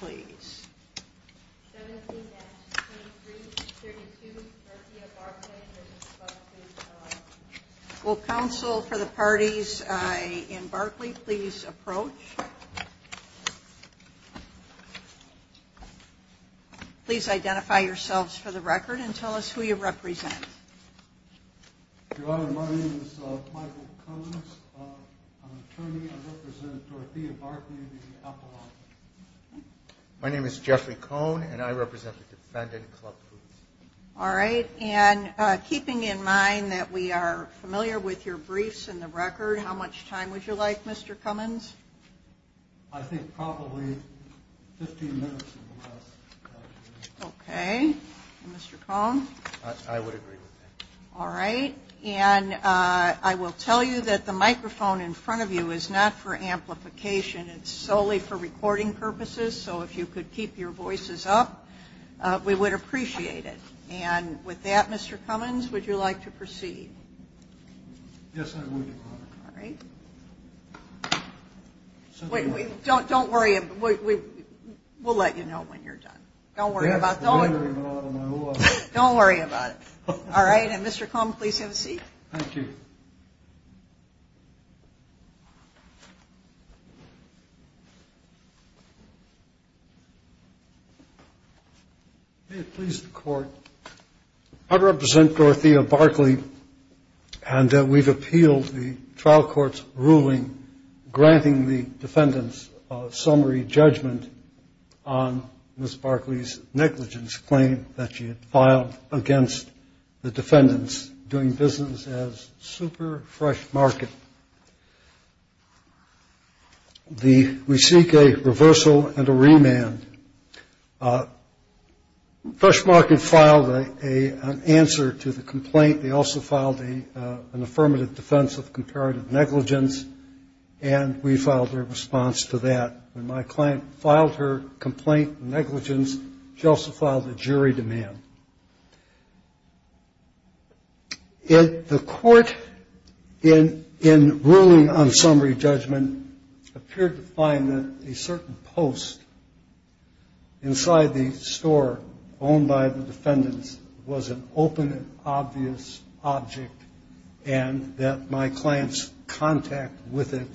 17-2332 Dorothea Barclay v. Club Foods, LLC Your Honor, my name is Michael Collins. I'm an attorney. I represent Dorothea Barclay v. Apple Office My name is Jeffrey Cohn, and I represent the defendant, Club Foods All right. And keeping in mind that we are familiar with your briefs and the record, how much time would you like, Mr. Cummins? I think probably 15 minutes or less. Okay. And Mr. Cohn? I would agree with that. All right. And I will tell you that the microphone in front of you is not for amplification. It's solely for recording purposes. So if you could keep your voices up, we would appreciate it. And with that, Mr. Cummins, would you like to proceed? All right. Don't worry. We'll let you know when you're done. Don't worry about it. All right. And Mr. Cummins, please have a seat. Thank you. May it please the Court, I represent Dorothea Barclay, and we've appealed the trial court's ruling granting the defendant's summary judgment on Ms. Barclay's negligence claim that she had filed against the defendant's doing business as super fresh market. We seek a reversal and a remand. Fresh market filed an answer to the complaint. They also filed an affirmative defense of comparative negligence, and we filed a response to that. When my client filed her complaint of negligence, she also filed a jury demand. The court, in ruling on summary judgment, appeared to find that a certain post inside the store owned by the defendants was an open and obvious object and that my client's contact with it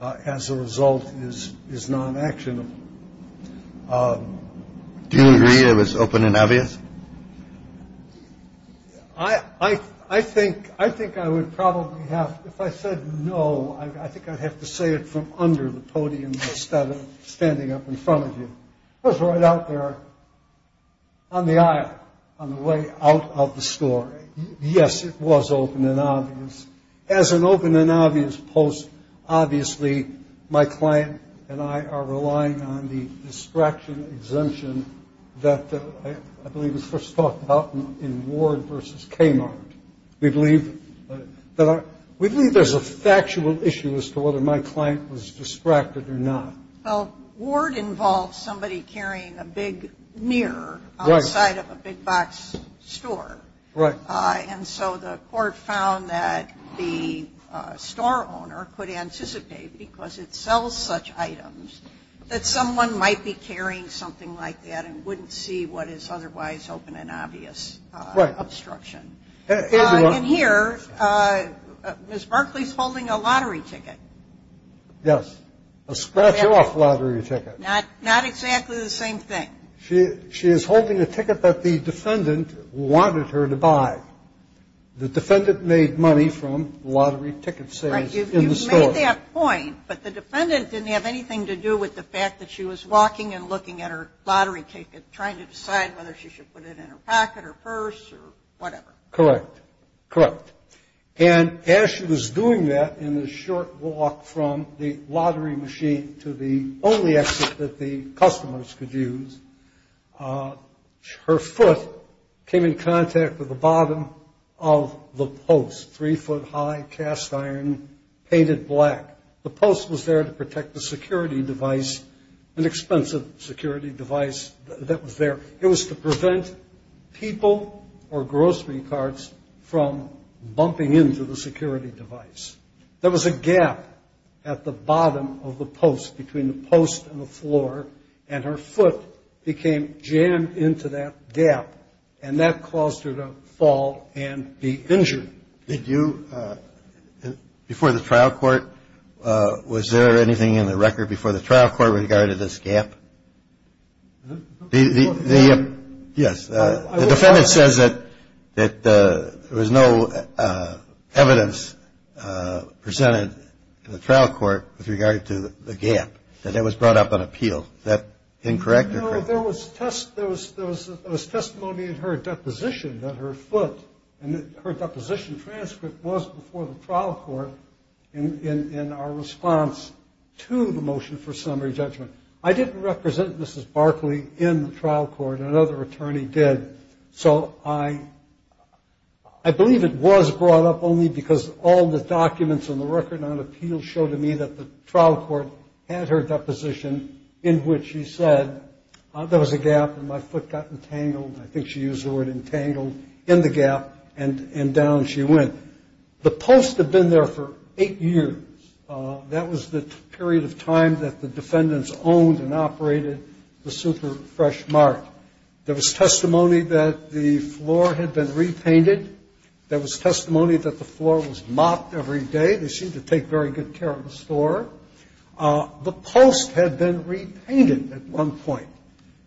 as a result is non-actionable. Do you agree it was open and obvious? I think I would probably have, if I said no, I think I'd have to say it from under the podium instead of standing up in front of you. It was right out there on the aisle on the way out of the store. Yes, it was open and obvious. As an open and obvious post, obviously my client and I are relying on the distraction exemption that I believe was first talked about in Ward v. Kmart. We believe there's a factual issue as to whether my client was distracted or not. Well, Ward involves somebody carrying a big mirror outside of a big box store. And so the court found that the store owner could anticipate, because it sells such items, that someone might be carrying something like that and wouldn't see what is otherwise open and obvious obstruction. And here, Ms. Barkley's holding a lottery ticket. Yes, a scratch-off lottery ticket. Not exactly the same thing. She is holding a ticket that the defendant wanted her to buy. The defendant made money from lottery ticket sales in the store. Right, you've made that point, but the defendant didn't have anything to do with the fact that she was walking and looking at her lottery ticket, trying to decide whether she should put it in her pocket or purse or whatever. Correct. And as she was doing that in the short walk from the lottery machine to the only exit that the customers could use, her foot came in contact with the bottom of the post, three foot high, cast iron, painted black. The post was there to protect the security device, an expensive security device that was there. It was to prevent people or grocery carts from bumping into the security device. There was a gap at the bottom of the post between the post and the floor, and her foot became jammed into that gap, and that caused her to fall and be injured. Did you, before the trial court, was there anything in the record before the trial court regarding this gap? Yes. The defendant says that there was no evidence presented to the trial court with regard to the gap, that it was brought up on appeal. Is that incorrect? No, there was testimony in her deposition that her foot and her deposition transcript was before the trial court in our response to the motion for summary judgment. I didn't represent Mrs. Barkley in the trial court. Another attorney did. So I believe it was brought up only because all the documents in the record on appeal showed to me that the trial court had her deposition in which she said there was a gap and my foot got entangled, I think she used the word entangled, in the gap and down she went. The post had been there for eight years. That was the period of time that the defendants owned and operated the Super Fresh Mart. There was testimony that the floor had been repainted. There was testimony that the floor was mopped every day. They seemed to take very good care of the store. The post had been repainted at one point.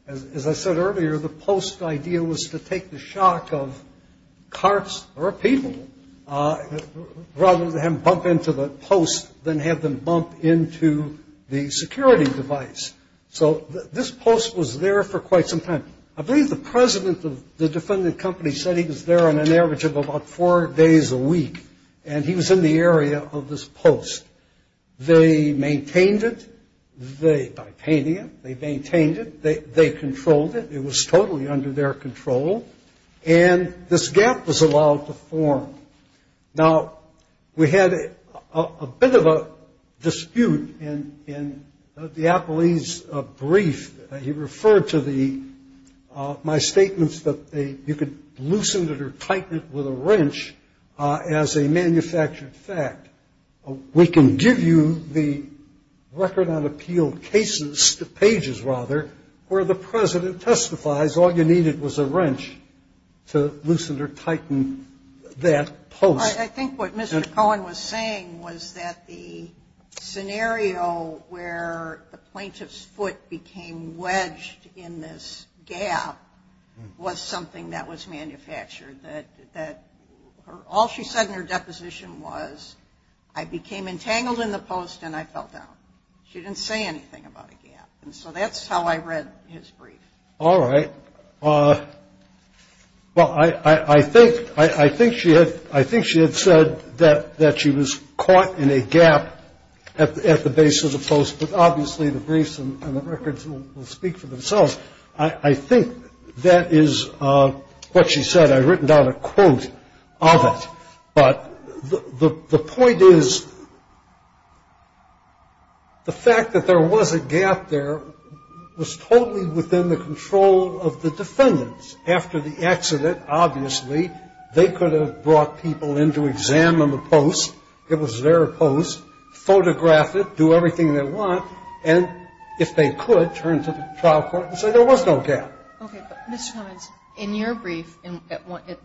As I said earlier, the post idea was to take the shock of carts or people rather than bump into the post than have them bump into the security device. So this post was there for quite some time. I believe the president of the defendant company said he was there on an average of about four days a week. And he was in the area of this post. They maintained it by painting it. They maintained it. They controlled it. It was totally under their control. And this gap was allowed to form. Now, we had a bit of a dispute in DiApoli's brief. He referred to my statements that you could loosen it or tighten it with a wrench as a manufactured fact. We can give you the record on appeal cases, pages rather, where the president testifies all you needed was a wrench to loosen or tighten that post. I think what Mr. Cohen was saying was that the scenario where the plaintiff's foot became wedged in this gap was something that was manufactured. All she said in her deposition was, I became entangled in the post and I fell down. She didn't say anything about a gap. And so that's how I read his brief. All right. Well, I think she had said that she was caught in a gap at the base of the post, but obviously the briefs and the records will speak for themselves. I think that is what she said. I've written down a quote of it. But the point is the fact that there was a gap there was totally within the control of the defendants. After the accident, obviously, they could have brought people in to examine the post. It was their post, photograph it, do everything they want, and if they could, turn to the trial court and say there was no gap. Okay, but Ms. Collins, in your brief,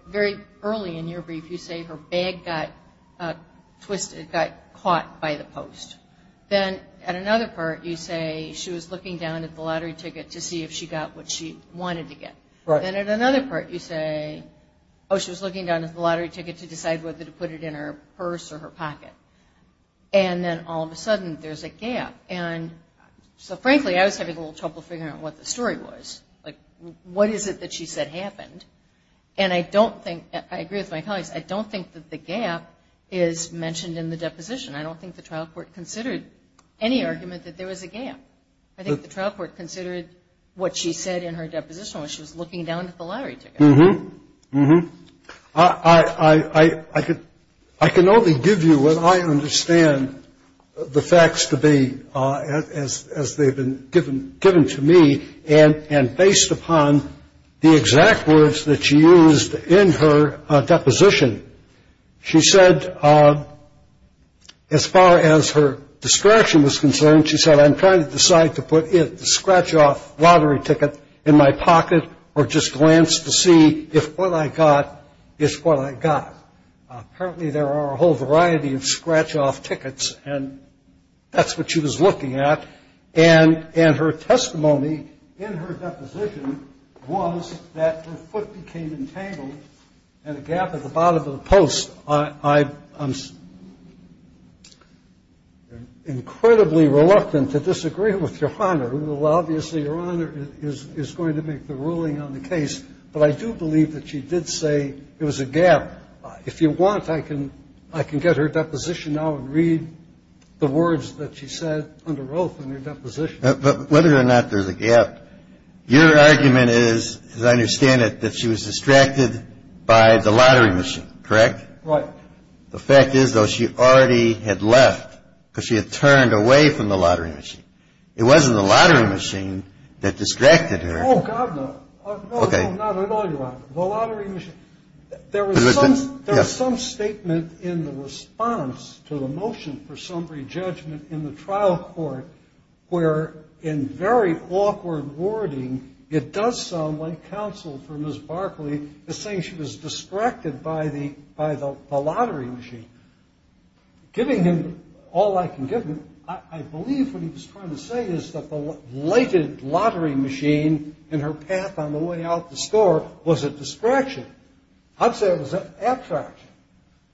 very early in your brief, you say her bag got twisted, got caught by the post. Then at another part you say she was looking down at the lottery ticket to see if she got what she wanted to get. Then at another part you say, oh, she was looking down at the lottery ticket to decide whether to put it in her purse or her pocket. And then all of a sudden there's a gap. And so, frankly, I was having a little trouble figuring out what the story was. Like, what is it that she said happened? And I agree with my colleagues, I don't think that the gap is mentioned in the deposition. I don't think the trial court considered any argument that there was a gap. I think the trial court considered what she said in her deposition when she was looking down at the lottery ticket. Mm-hmm. Mm-hmm. I can only give you what I understand the facts to be as they've been given to me. And based upon the exact words that she used in her deposition, she said as far as her discretion was concerned, she said I'm trying to decide to put the scratch-off lottery ticket in my pocket or just glance to see if what I got is what I got. Apparently there are a whole variety of scratch-off tickets, and that's what she was looking at. And her testimony in her deposition was that her foot became entangled in a gap at the bottom of the post. I'm incredibly reluctant to disagree with Your Honor. Obviously, Your Honor is going to make the ruling on the case. But I do believe that she did say there was a gap. If you want, I can get her deposition now and read the words that she said under oath in her deposition. But whether or not there's a gap, your argument is, as I understand it, that she was distracted by the lottery machine, correct? Right. The fact is, though, she already had left because she had turned away from the lottery machine. It wasn't the lottery machine that distracted her. Oh, God, no. Okay. No, Your Honor, the lottery machine. There was some statement in the response to the motion for some re-judgment in the trial court where, in very awkward wording, it does sound like counsel for Ms. Barkley is saying she was distracted by the lottery machine. Giving him all I can give him, I believe what he was trying to say is that the blighted lottery machine in her path on the way out the store was a distraction. I'd say it was an attraction.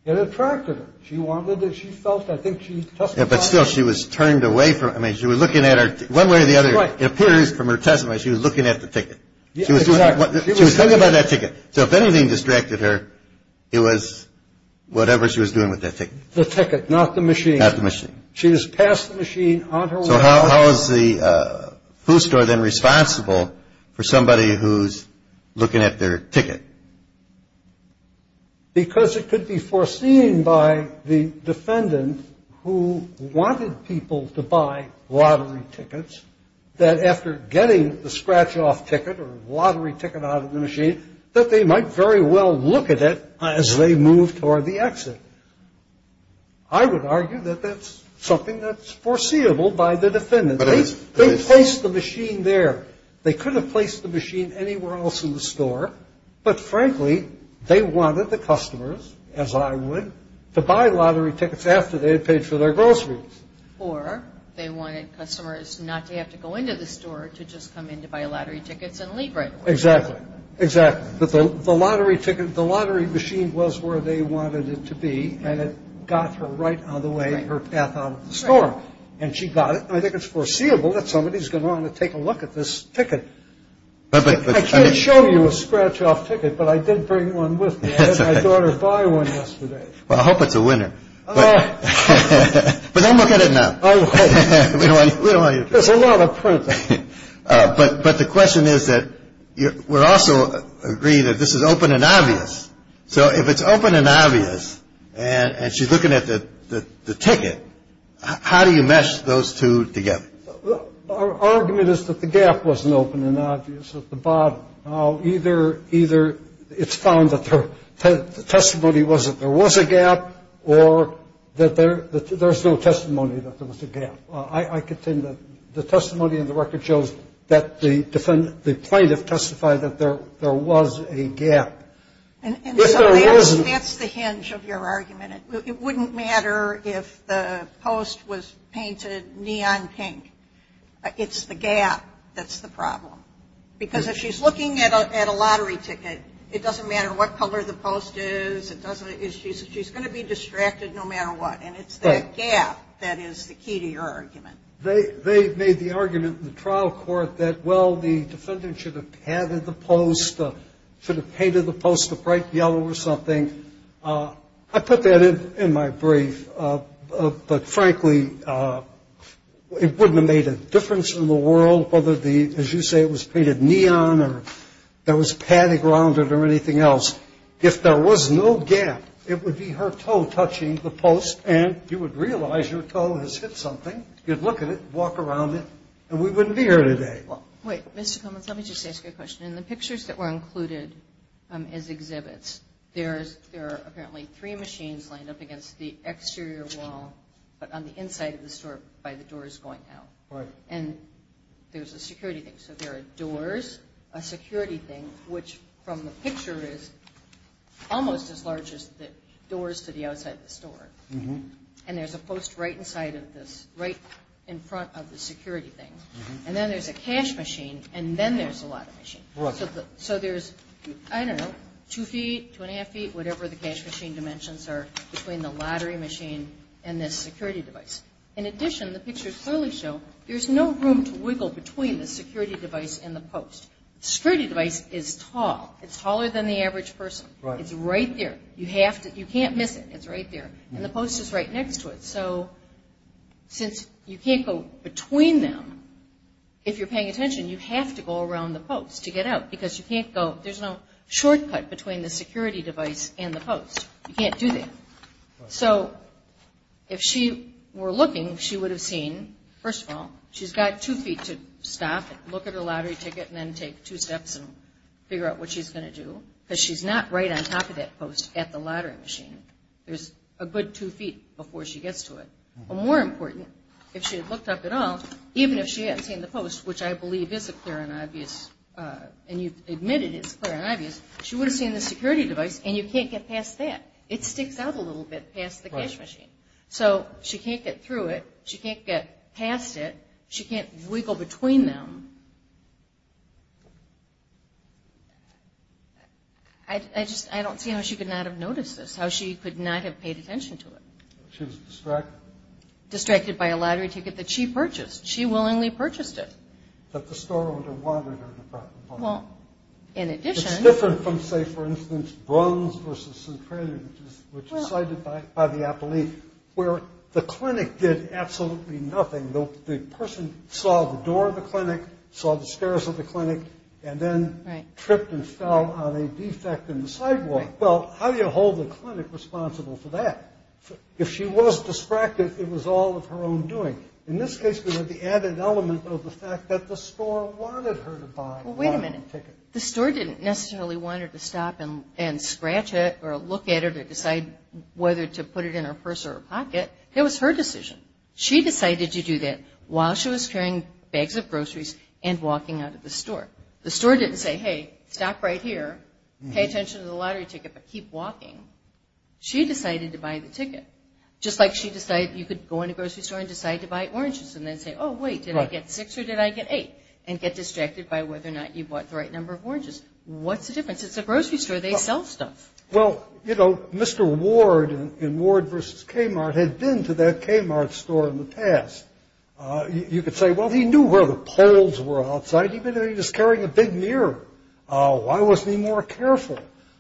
It attracted her. She wanted it. She felt, I think she testified. But still, she was turned away from it. I mean, she was looking at her. One way or the other, it appears from her testimony, she was looking at the ticket. Exactly. She was talking about that ticket. So if anything distracted her, it was whatever she was doing with that ticket. The ticket, not the machine. Not the machine. She was past the machine, on her way out. So how is the food store then responsible for somebody who's looking at their ticket? Because it could be foreseen by the defendant who wanted people to buy lottery tickets, that after getting the scratch-off ticket or lottery ticket out of the machine, that they might very well look at it as they moved toward the exit. I would argue that that's something that's foreseeable by the defendant. They placed the machine there. They could have placed the machine anywhere else in the store. But, frankly, they wanted the customers, as I would, to buy lottery tickets after they had paid for their groceries. Or they wanted customers not to have to go into the store, to just come in to buy lottery tickets and leave right away. Exactly. Exactly. But the lottery ticket, the lottery machine was where they wanted it to be, and it got her right on the way, her path out of the store. And she got it. I think it's foreseeable that somebody's going to want to take a look at this ticket. I can't show you a scratch-off ticket, but I did bring one with me. I had my daughter buy one yesterday. Well, I hope it's a winner. But don't look at it now. I won't. We don't want you to. There's a lot of printing. But the question is that we also agree that this is open and obvious. So if it's open and obvious and she's looking at the ticket, how do you mesh those two together? Our argument is that the gap wasn't open and obvious at the bottom. Either it's found that the testimony was that there was a gap, or that there's no testimony that there was a gap. I contend that the testimony in the record shows that the plaintiff testified that there was a gap. It wouldn't matter if the post was painted neon pink. It's the gap that's the problem. Because if she's looking at a lottery ticket, it doesn't matter what color the post is. She's going to be distracted no matter what. And it's that gap that is the key to your argument. They made the argument in the trial court that, well, the defendant should have padded the post, should have painted the post a bright yellow or something. I put that in my brief. But, frankly, it wouldn't have made a difference in the world whether, as you say, it was painted neon or there was padding around it or anything else. If there was no gap, it would be her toe touching the post, and you would realize your toe has hit something. You'd look at it, walk around it, and we wouldn't be here today. Wait. Mr. Cummins, let me just ask you a question. In the pictures that were included as exhibits, there are apparently three machines lined up against the exterior wall, but on the inside of the store by the doors going out. And there's a security thing. So there are doors, a security thing, which, from the picture, is almost as large as the doors to the outside of the store. And there's a post right inside of this, right in front of the security thing. And then there's a cash machine, and then there's a lottery machine. Right. So there's, I don't know, two feet, two and a half feet, whatever the cash machine dimensions are between the lottery machine and this security device. In addition, the pictures clearly show there's no room to wiggle between the security device and the post. The security device is tall. It's taller than the average person. Right. It's right there. You can't miss it. It's right there. And the post is right next to it. So since you can't go between them, if you're paying attention, you have to go around the post to get out because you can't go – there's no shortcut between the security device and the post. You can't do that. So if she were looking, she would have seen, first of all, she's got two feet to stop and look at her lottery ticket and then take two steps and figure out what she's going to do because she's not right on top of that post at the lottery machine. There's a good two feet before she gets to it. But more important, if she had looked up at all, even if she had seen the post, which I believe is a clear and obvious – and you've admitted it's clear and obvious – she would have seen the security device and you can't get past that. It sticks out a little bit past the cash machine. So she can't get through it. She can't get past it. She can't wiggle between them. I just – I don't see how she could not have noticed this, how she could not have paid attention to it. She was distracted. Distracted by a lottery ticket that she purchased. She willingly purchased it. That the store owner wanted her to drop the ball. Well, in addition – It's different from, say, for instance, Bruns v. Centralia, which is cited by the appellee, where the clinic did absolutely nothing. The person saw the door of the clinic, saw the stairs of the clinic, and then tripped and fell on a defect in the sidewalk. Well, how do you hold the clinic responsible for that? If she was distracted, it was all of her own doing. In this case, we have the added element of the fact that the store wanted her to buy the ticket. Well, wait a minute. The store didn't necessarily want her to stop and scratch it or look at it or decide whether to put it in her purse or her pocket. It was her decision. She decided to do that while she was carrying bags of groceries and walking out of the store. The store didn't say, hey, stop right here, pay attention to the lottery ticket, but keep walking. She decided to buy the ticket. Just like she decided you could go in a grocery store and decide to buy oranges and then say, oh, wait, did I get six or did I get eight, and get distracted by whether or not you bought the right number of oranges. What's the difference? It's a grocery store. They sell stuff. Well, you know, Mr. Ward in Ward v. Kmart had been to that Kmart store in the past. You could say, well, he knew where the poles were outside. He was carrying a big mirror. Why wasn't he more careful?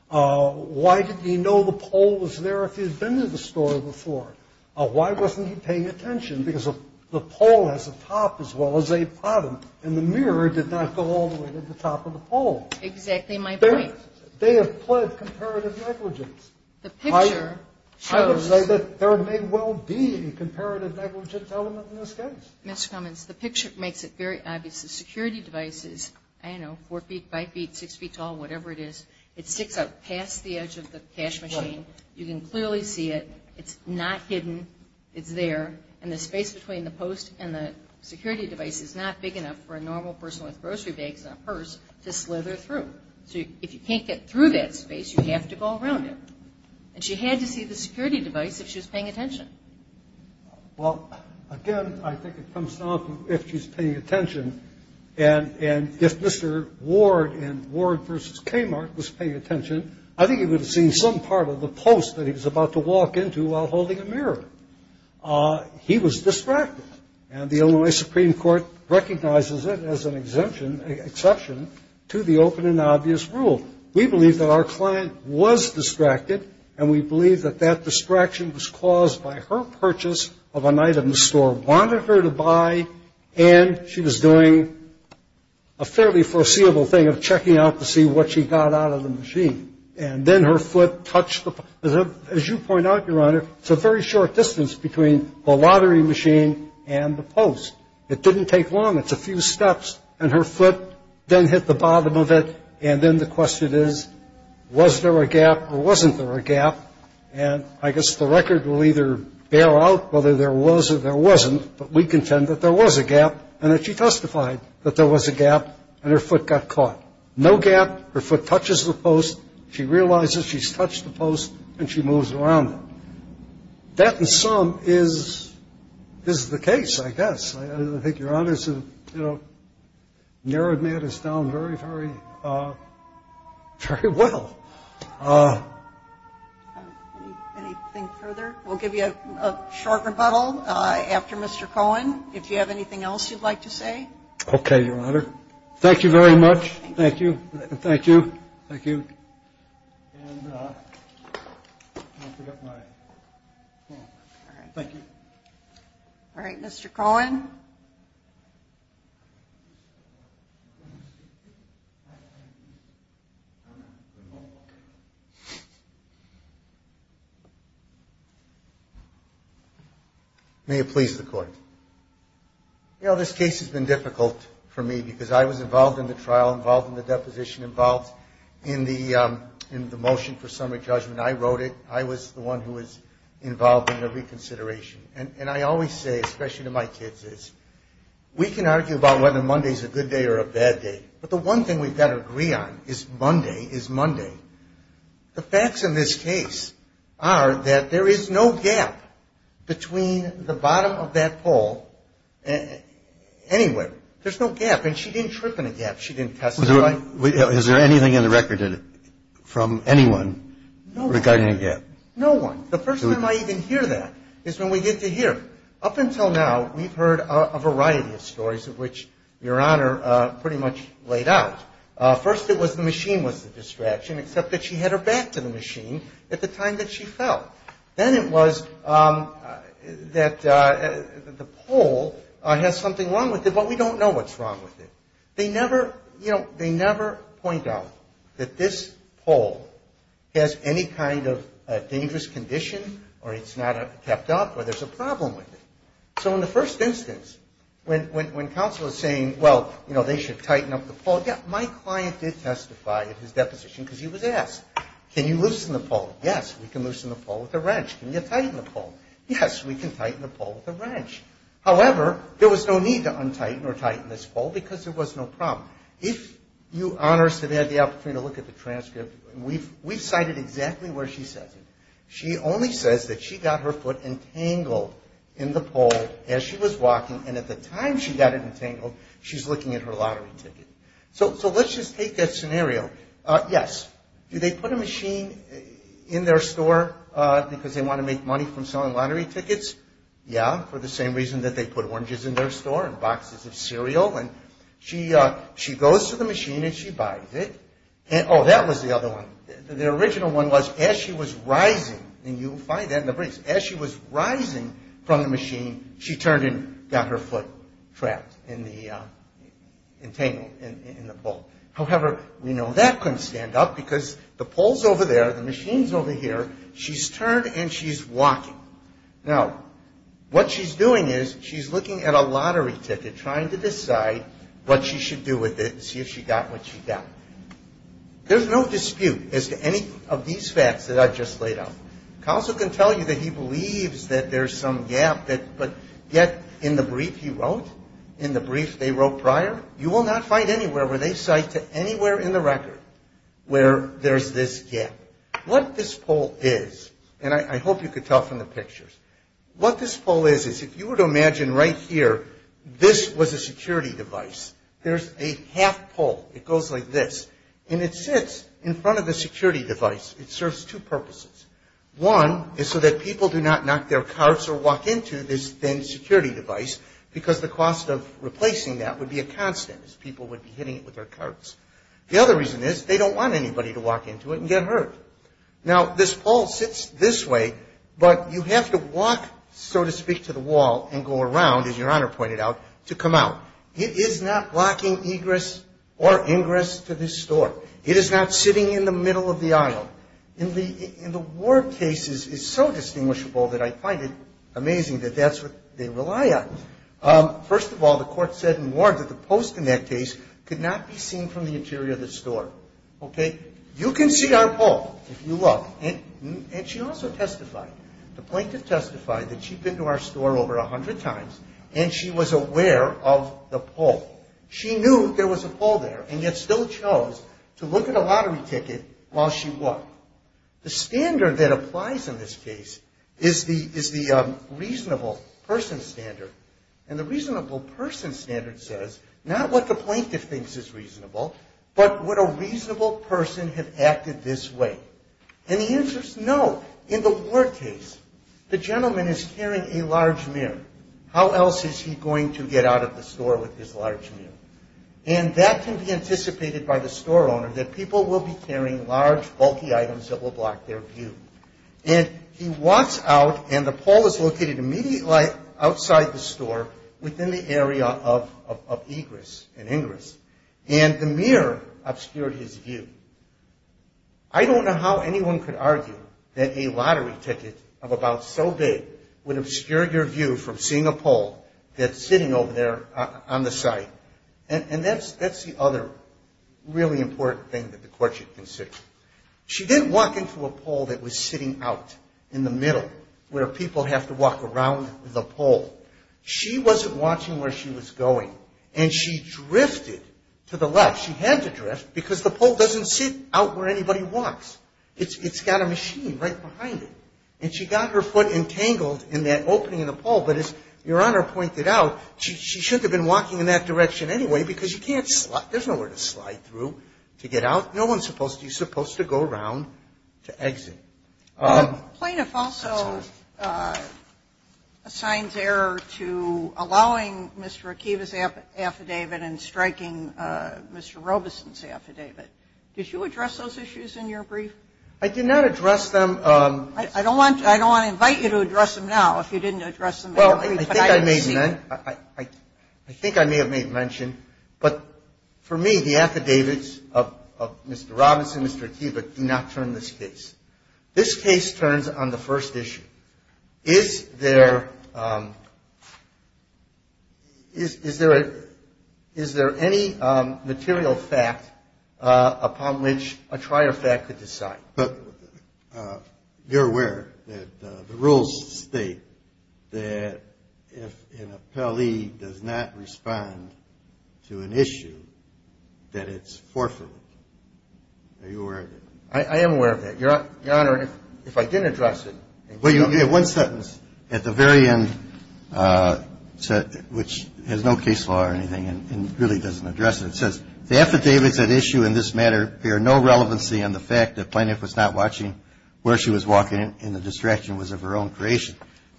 Why did he know the pole was there if he had been to the store before? Why wasn't he paying attention? Because the pole has a top as well as a bottom, and the mirror did not go all the way to the top of the pole. Exactly my point. They have pled comparative negligence. The picture shows. I would say that there may well be a comparative negligence element in this case. Mr. Cummins, the picture makes it very obvious. The security device is, I don't know, four feet, five feet, six feet tall, whatever it is. It sticks out past the edge of the cash machine. You can clearly see it. It's not hidden. It's there, and the space between the post and the security device is not big enough for a normal person with grocery bags and a purse to slither through. So if you can't get through that space, you have to go around it. And she had to see the security device if she was paying attention. Well, again, I think it comes down to if she's paying attention, and if Mr. Ward in Ward versus Kmart was paying attention, I think he would have seen some part of the post that he was about to walk into while holding a mirror. He was distracted, and the Illinois Supreme Court recognizes it as an exception to the open and obvious rule. We believe that our client was distracted, and we believe that that distraction was caused by her purchase of an item the store wanted her to buy, and she was doing a fairly foreseeable thing of checking out to see what she got out of the machine. And then her foot touched the, as you point out, Your Honor, it's a very short distance between the lottery machine and the post. It didn't take long. It's a few steps, and her foot then hit the bottom of it, and then the question is, was there a gap or wasn't there a gap? And I guess the record will either bear out whether there was or there wasn't, but we contend that there was a gap and that she testified that there was a gap and her foot got caught. No gap. Her foot touches the post. She realizes she's touched the post, and she moves around it. That, in sum, is the case, I guess. I think Your Honor has narrowed matters down very, very well. Anything further? We'll give you a short rebuttal after Mr. Cohen, if you have anything else you'd like to say. Okay, Your Honor. Thank you very much. Thank you. Thank you. Thank you. And I'll pick up my phone. All right. Thank you. All right, Mr. Cohen. May it please the Court. You know, this case has been difficult for me because I was involved in the trial, involved in the deposition, involved in the motion for summary judgment. I wrote it. I was the one who was involved in the reconsideration. And I always say, especially to my kids, is we can argue about whether Monday is a good day or a bad day, but the one thing we've got to agree on is Monday is Monday. The facts in this case are that there is no gap between the bottom of that pole anywhere. And she didn't trip in a gap. She didn't test it. Is there anything in the record from anyone regarding a gap? No one. The first time I even hear that is when we get to here. Up until now, we've heard a variety of stories of which Your Honor pretty much laid out. First it was the machine was the distraction, except that she had her back to the machine at the time that she fell. Then it was that the pole has something wrong with it, but we don't know what's wrong with it. They never, you know, they never point out that this pole has any kind of dangerous condition or it's not kept up or there's a problem with it. So in the first instance, when counsel is saying, well, you know, they should tighten up the pole, yeah, my client did testify at his deposition because he was asked, can you loosen the pole? Yes, we can loosen the pole with a wrench. Can you tighten the pole? Yes, we can tighten the pole with a wrench. However, there was no need to untighten or tighten this pole because there was no problem. If You Honor said they had the opportunity to look at the transcript, we've cited exactly where she says it. She only says that she got her foot entangled in the pole as she was walking, and at the time she got it entangled, she's looking at her lottery ticket. So let's just take that scenario. Yes, do they put a machine in their store because they want to make money from selling lottery tickets? Yeah, for the same reason that they put oranges in their store and boxes of cereal. And she goes to the machine and she buys it. Oh, that was the other one. The original one was as she was rising, and you'll find that in the briefs, as she was rising from the machine, she turned and got her foot trapped in the entangle, in the pole. However, we know that couldn't stand up because the pole's over there, the machine's over here, she's turned and she's walking. Now, what she's doing is she's looking at a lottery ticket, trying to decide what she should do with it and see if she got what she got. There's no dispute as to any of these facts that I've just laid out. Counsel can tell you that he believes that there's some gap, but yet in the brief he wrote, in the brief they wrote prior, you will not find anywhere where they cite to anywhere in the record where there's this gap. What this pole is, and I hope you could tell from the pictures, what this pole is, is if you were to imagine right here, this was a security device. There's a half pole. It goes like this, and it sits in front of the security device. It serves two purposes. One is so that people do not knock their carts or walk into this thin security device because the cost of replacing that would be a constant as people would be hitting it with their carts. The other reason is they don't want anybody to walk into it and get hurt. Now, this pole sits this way, but you have to walk, so to speak, to the wall and go around, as Your Honor pointed out, to come out. It is not blocking egress or ingress to this store. It is not sitting in the middle of the aisle. In the Ward cases, it's so distinguishable that I find it amazing that that's what they rely on. First of all, the court said in Ward that the post in that case could not be seen from the interior of the store. Okay? You can see our pole if you look, and she also testified. The plaintiff testified that she'd been to our store over 100 times, and she was aware of the pole. She knew there was a pole there, and yet still chose to look at a lottery ticket while she walked. The standard that applies in this case is the reasonable person standard, and the reasonable person standard says not what the plaintiff thinks is reasonable, but would a reasonable person have acted this way? And the answer is no. In the Ward case, the gentleman is carrying a large mirror. How else is he going to get out of the store with his large mirror? And that can be anticipated by the store owner that people will be carrying large, bulky items that will block their view. And he walks out, and the pole is located immediately outside the store within the area of egress and ingress, and the mirror obscured his view. I don't know how anyone could argue that a lottery ticket of about so big would obscure your view from seeing a pole that's sitting over there on the side. And that's the other really important thing that the court should consider. She didn't walk into a pole that was sitting out in the middle where people have to walk around the pole. She wasn't watching where she was going, and she drifted to the left. She had to drift because the pole doesn't sit out where anybody walks. It's got a machine right behind it, and she got her foot entangled in that opening in the pole, but as Your Honor pointed out, she shouldn't have been walking in that direction anyway, because you can't slide. There's nowhere to slide through to get out. No one's supposed to. You're supposed to go around to exit. Sotomayor, that's all. Sotomayor, plaintiff also assigns error to allowing Mr. Akiva's affidavit and striking Mr. Robeson's affidavit. Did you address those issues in your brief? I did not address them. I don't want to invite you to address them now if you didn't address them in your brief. Well, I think I may have made mention, but for me, the affidavits of Mr. Robeson and Mr. Akiva do not turn this case. This case turns on the first issue. Is there any material fact upon which a trier fact could decide? But you're aware that the rules state that if an appellee does not respond to an issue, that it's forfeitable. Are you aware of that? I am aware of that. Your Honor, if I didn't address it. Well, you have one sentence at the very end which has no case law or anything and really doesn't address it. It says, the affidavits at issue in this matter bear no relevancy on the fact that plaintiff was not watching where she was walking and the distraction was of her own creation.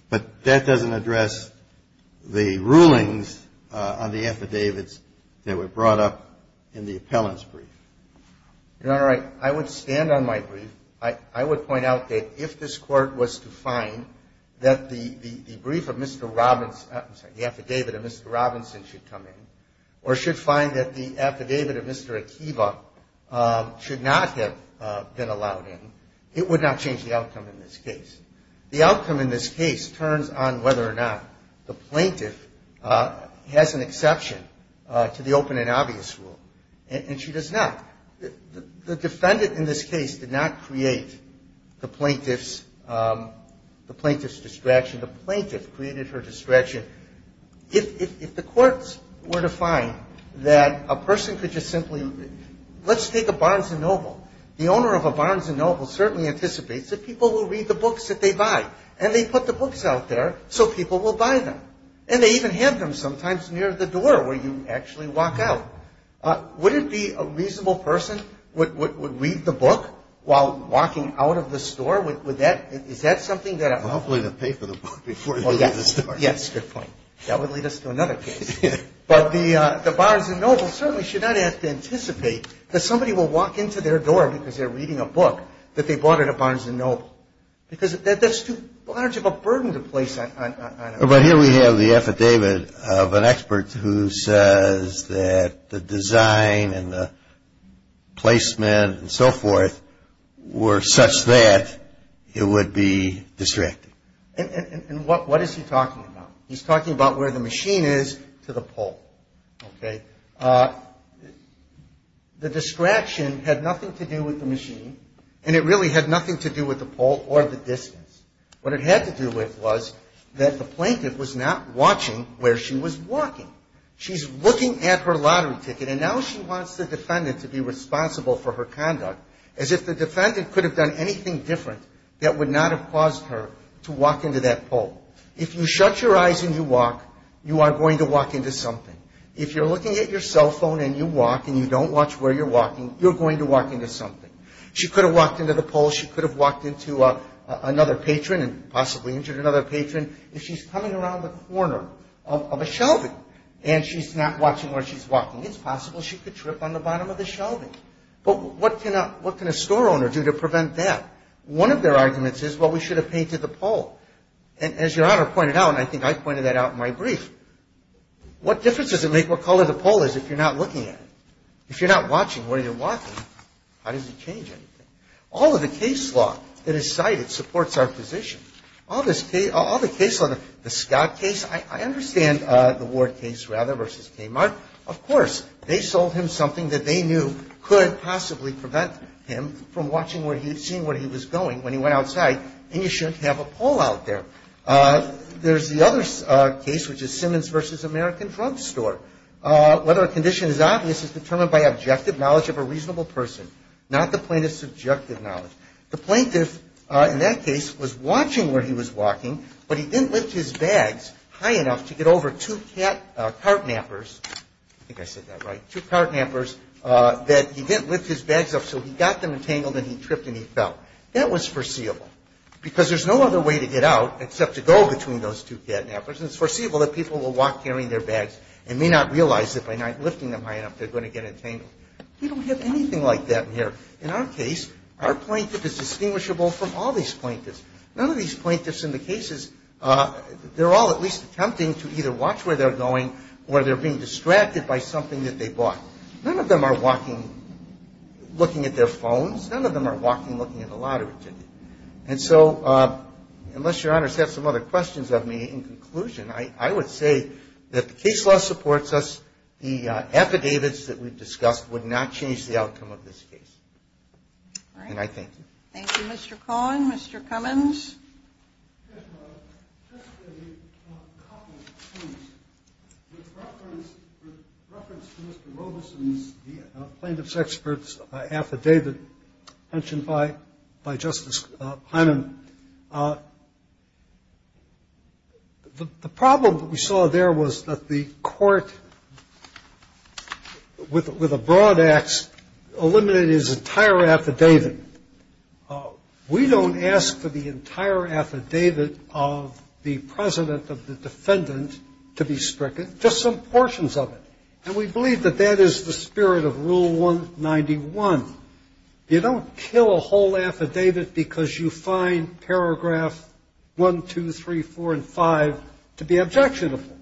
But that doesn't address the rulings on the affidavits that were brought up in the appellant's brief. Your Honor, I would stand on my brief. I would point out that if this Court was to find that the brief of Mr. Robeson – I'm sorry, the affidavit of Mr. Akiva should not have been allowed in, it would not change the outcome in this case. The outcome in this case turns on whether or not the plaintiff has an exception to the open and obvious rule. And she does not. The defendant in this case did not create the plaintiff's distraction. The plaintiff created her distraction. If the courts were to find that a person could just simply – let's take a Barnes & Noble. The owner of a Barnes & Noble certainly anticipates that people will read the books that they buy. And they put the books out there so people will buy them. And they even have them sometimes near the door where you actually walk out. Would it be a reasonable person would read the book while walking out of the store? Would that – is that something that – Yes, good point. That would lead us to another case. But the Barnes & Noble certainly should not have to anticipate that somebody will walk into their door because they're reading a book that they bought at a Barnes & Noble. Because that's too large of a burden to place on – But here we have the affidavit of an expert who says that the design and the placement and so forth were such that it would be distracting. And what is he talking about? He's talking about where the machine is to the pole, okay? The distraction had nothing to do with the machine. And it really had nothing to do with the pole or the distance. What it had to do with was that the plaintiff was not watching where she was walking. She's looking at her lottery ticket. And now she wants the defendant to be responsible for her conduct as if the defendant could have done anything different that would not have caused her to walk into that pole. If you shut your eyes and you walk, you are going to walk into something. If you're looking at your cell phone and you walk and you don't watch where you're walking, you're going to walk into something. She could have walked into the pole. She could have walked into another patron and possibly injured another patron. If she's coming around the corner of a shelving and she's not watching where she's walking, it's possible she could trip on the bottom of the shelving. But what can a store owner do to prevent that? One of their arguments is, well, we should have painted the pole. And as Your Honor pointed out, and I think I pointed that out in my brief, what difference does it make what color the pole is if you're not looking at it? If you're not watching where you're walking, how does it change anything? All of the case law that is cited supports our position. All the case law, the Scott case, I understand the Ward case rather versus Kmart. Of course, they sold him something that they knew could possibly prevent him from watching where he was going when he went outside, and you shouldn't have a pole out there. There's the other case, which is Simmons versus American Drugstore. Whether a condition is obvious is determined by objective knowledge of a reasonable person, not the plaintiff's subjective knowledge. The plaintiff in that case was watching where he was walking, but he didn't lift his bags high enough to get over two cart nappers, I think I said that right, two cart nappers, that he didn't lift his bags up so he got them entangled and he tripped and he fell. That was foreseeable, because there's no other way to get out except to go between those two cart nappers, and it's foreseeable that people will walk carrying their bags and may not realize that by not lifting them high enough they're going to get entangled. We don't have anything like that in here. In our case, our plaintiff is distinguishable from all these plaintiffs. None of these plaintiffs in the cases, they're all at least attempting to either watch where they're going or they're being distracted by something that they bought. None of them are walking looking at their phones. None of them are walking looking at a lottery ticket. And so unless Your Honors have some other questions of me, in conclusion, I would say that the case law supports us. The affidavits that we've discussed would not change the outcome of this case. And I thank you. Thank you, Mr. Cohn. Mr. Cummins. Yes, Your Honor. Just a couple of points. With reference to Mr. Robeson's plaintiff's expert's affidavit mentioned by Justice Hyman, the problem that we saw there was that the court, with a broad ax, eliminated his entire affidavit. We don't ask for the entire affidavit of the president of the defendant to be stricken, just some portions of it. And we believe that that is the spirit of Rule 191. You don't kill a whole affidavit because you find paragraph 1, 2, 3, 4, and 5 to be objectionable,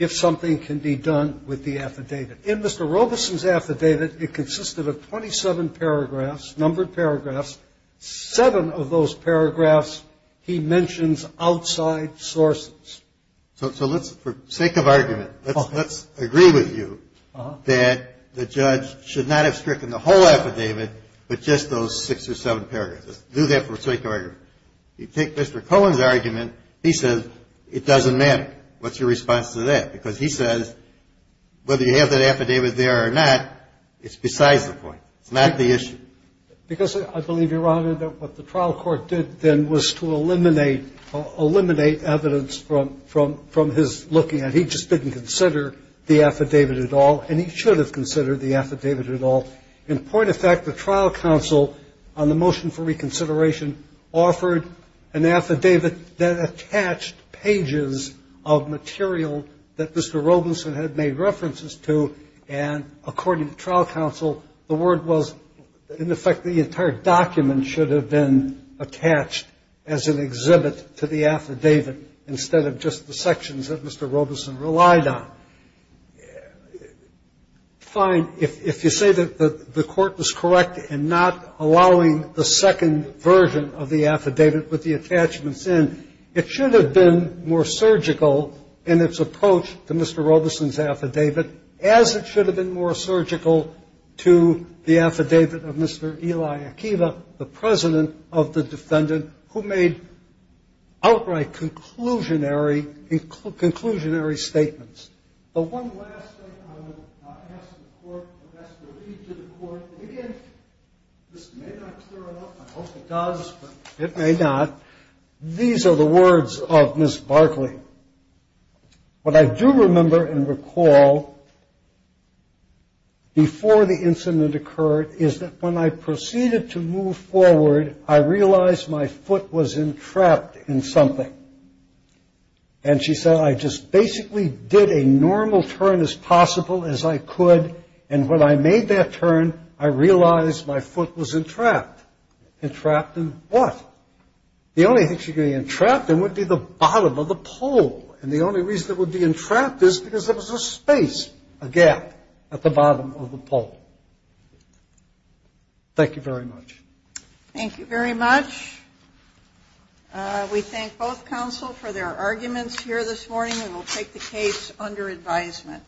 if something can be done with the affidavit. In Mr. Robeson's affidavit, it consisted of 27 paragraphs, numbered paragraphs. Seven of those paragraphs he mentions outside sources. So let's, for sake of argument, let's agree with you that the judge should not have stricken the whole affidavit, but just those six or seven paragraphs. Let's do that for sake of argument. You take Mr. Cohn's argument, he says it doesn't matter. What's your response to that? Because he says whether you have that affidavit there or not, it's besides the point. It's not the issue. Because I believe, Your Honor, that what the trial court did then was to eliminate evidence from his looking at it. He just didn't consider the affidavit at all, and he should have considered the affidavit at all. In point of fact, the trial counsel on the motion for reconsideration offered an affidavit that attached pages of material that Mr. Robeson had made references to, and according to trial counsel, the word was in effect the entire document should have been attached as an exhibit to the affidavit instead of just the sections that Mr. Robeson relied on. Fine, if you say that the court was correct in not allowing the second version of the affidavit with the attachments in, it should have been more surgical in its approach to Mr. Robeson's affidavit, as it should have been more surgical to the affidavit of Mr. Eli Akiva, the president of the defendant, who made outright conclusionary statements. The one last thing I will ask the court, I'll ask the lead to the court, and again, this may not clear it up. I hope it does, but it may not. These are the words of Ms. Barkley. What I do remember and recall before the incident occurred is that when I proceeded to move forward, I realized my foot was entrapped in something. And she said I just basically did a normal turn as possible as I could, and when I made that turn, I realized my foot was entrapped. Entrapped in what? The only thing she could be entrapped in would be the bottom of the pole, and the only reason it would be entrapped is because there was a space, a gap at the bottom of the pole. Thank you very much. Thank you very much. We thank both counsel for their arguments here this morning, and we'll take the case under advisement.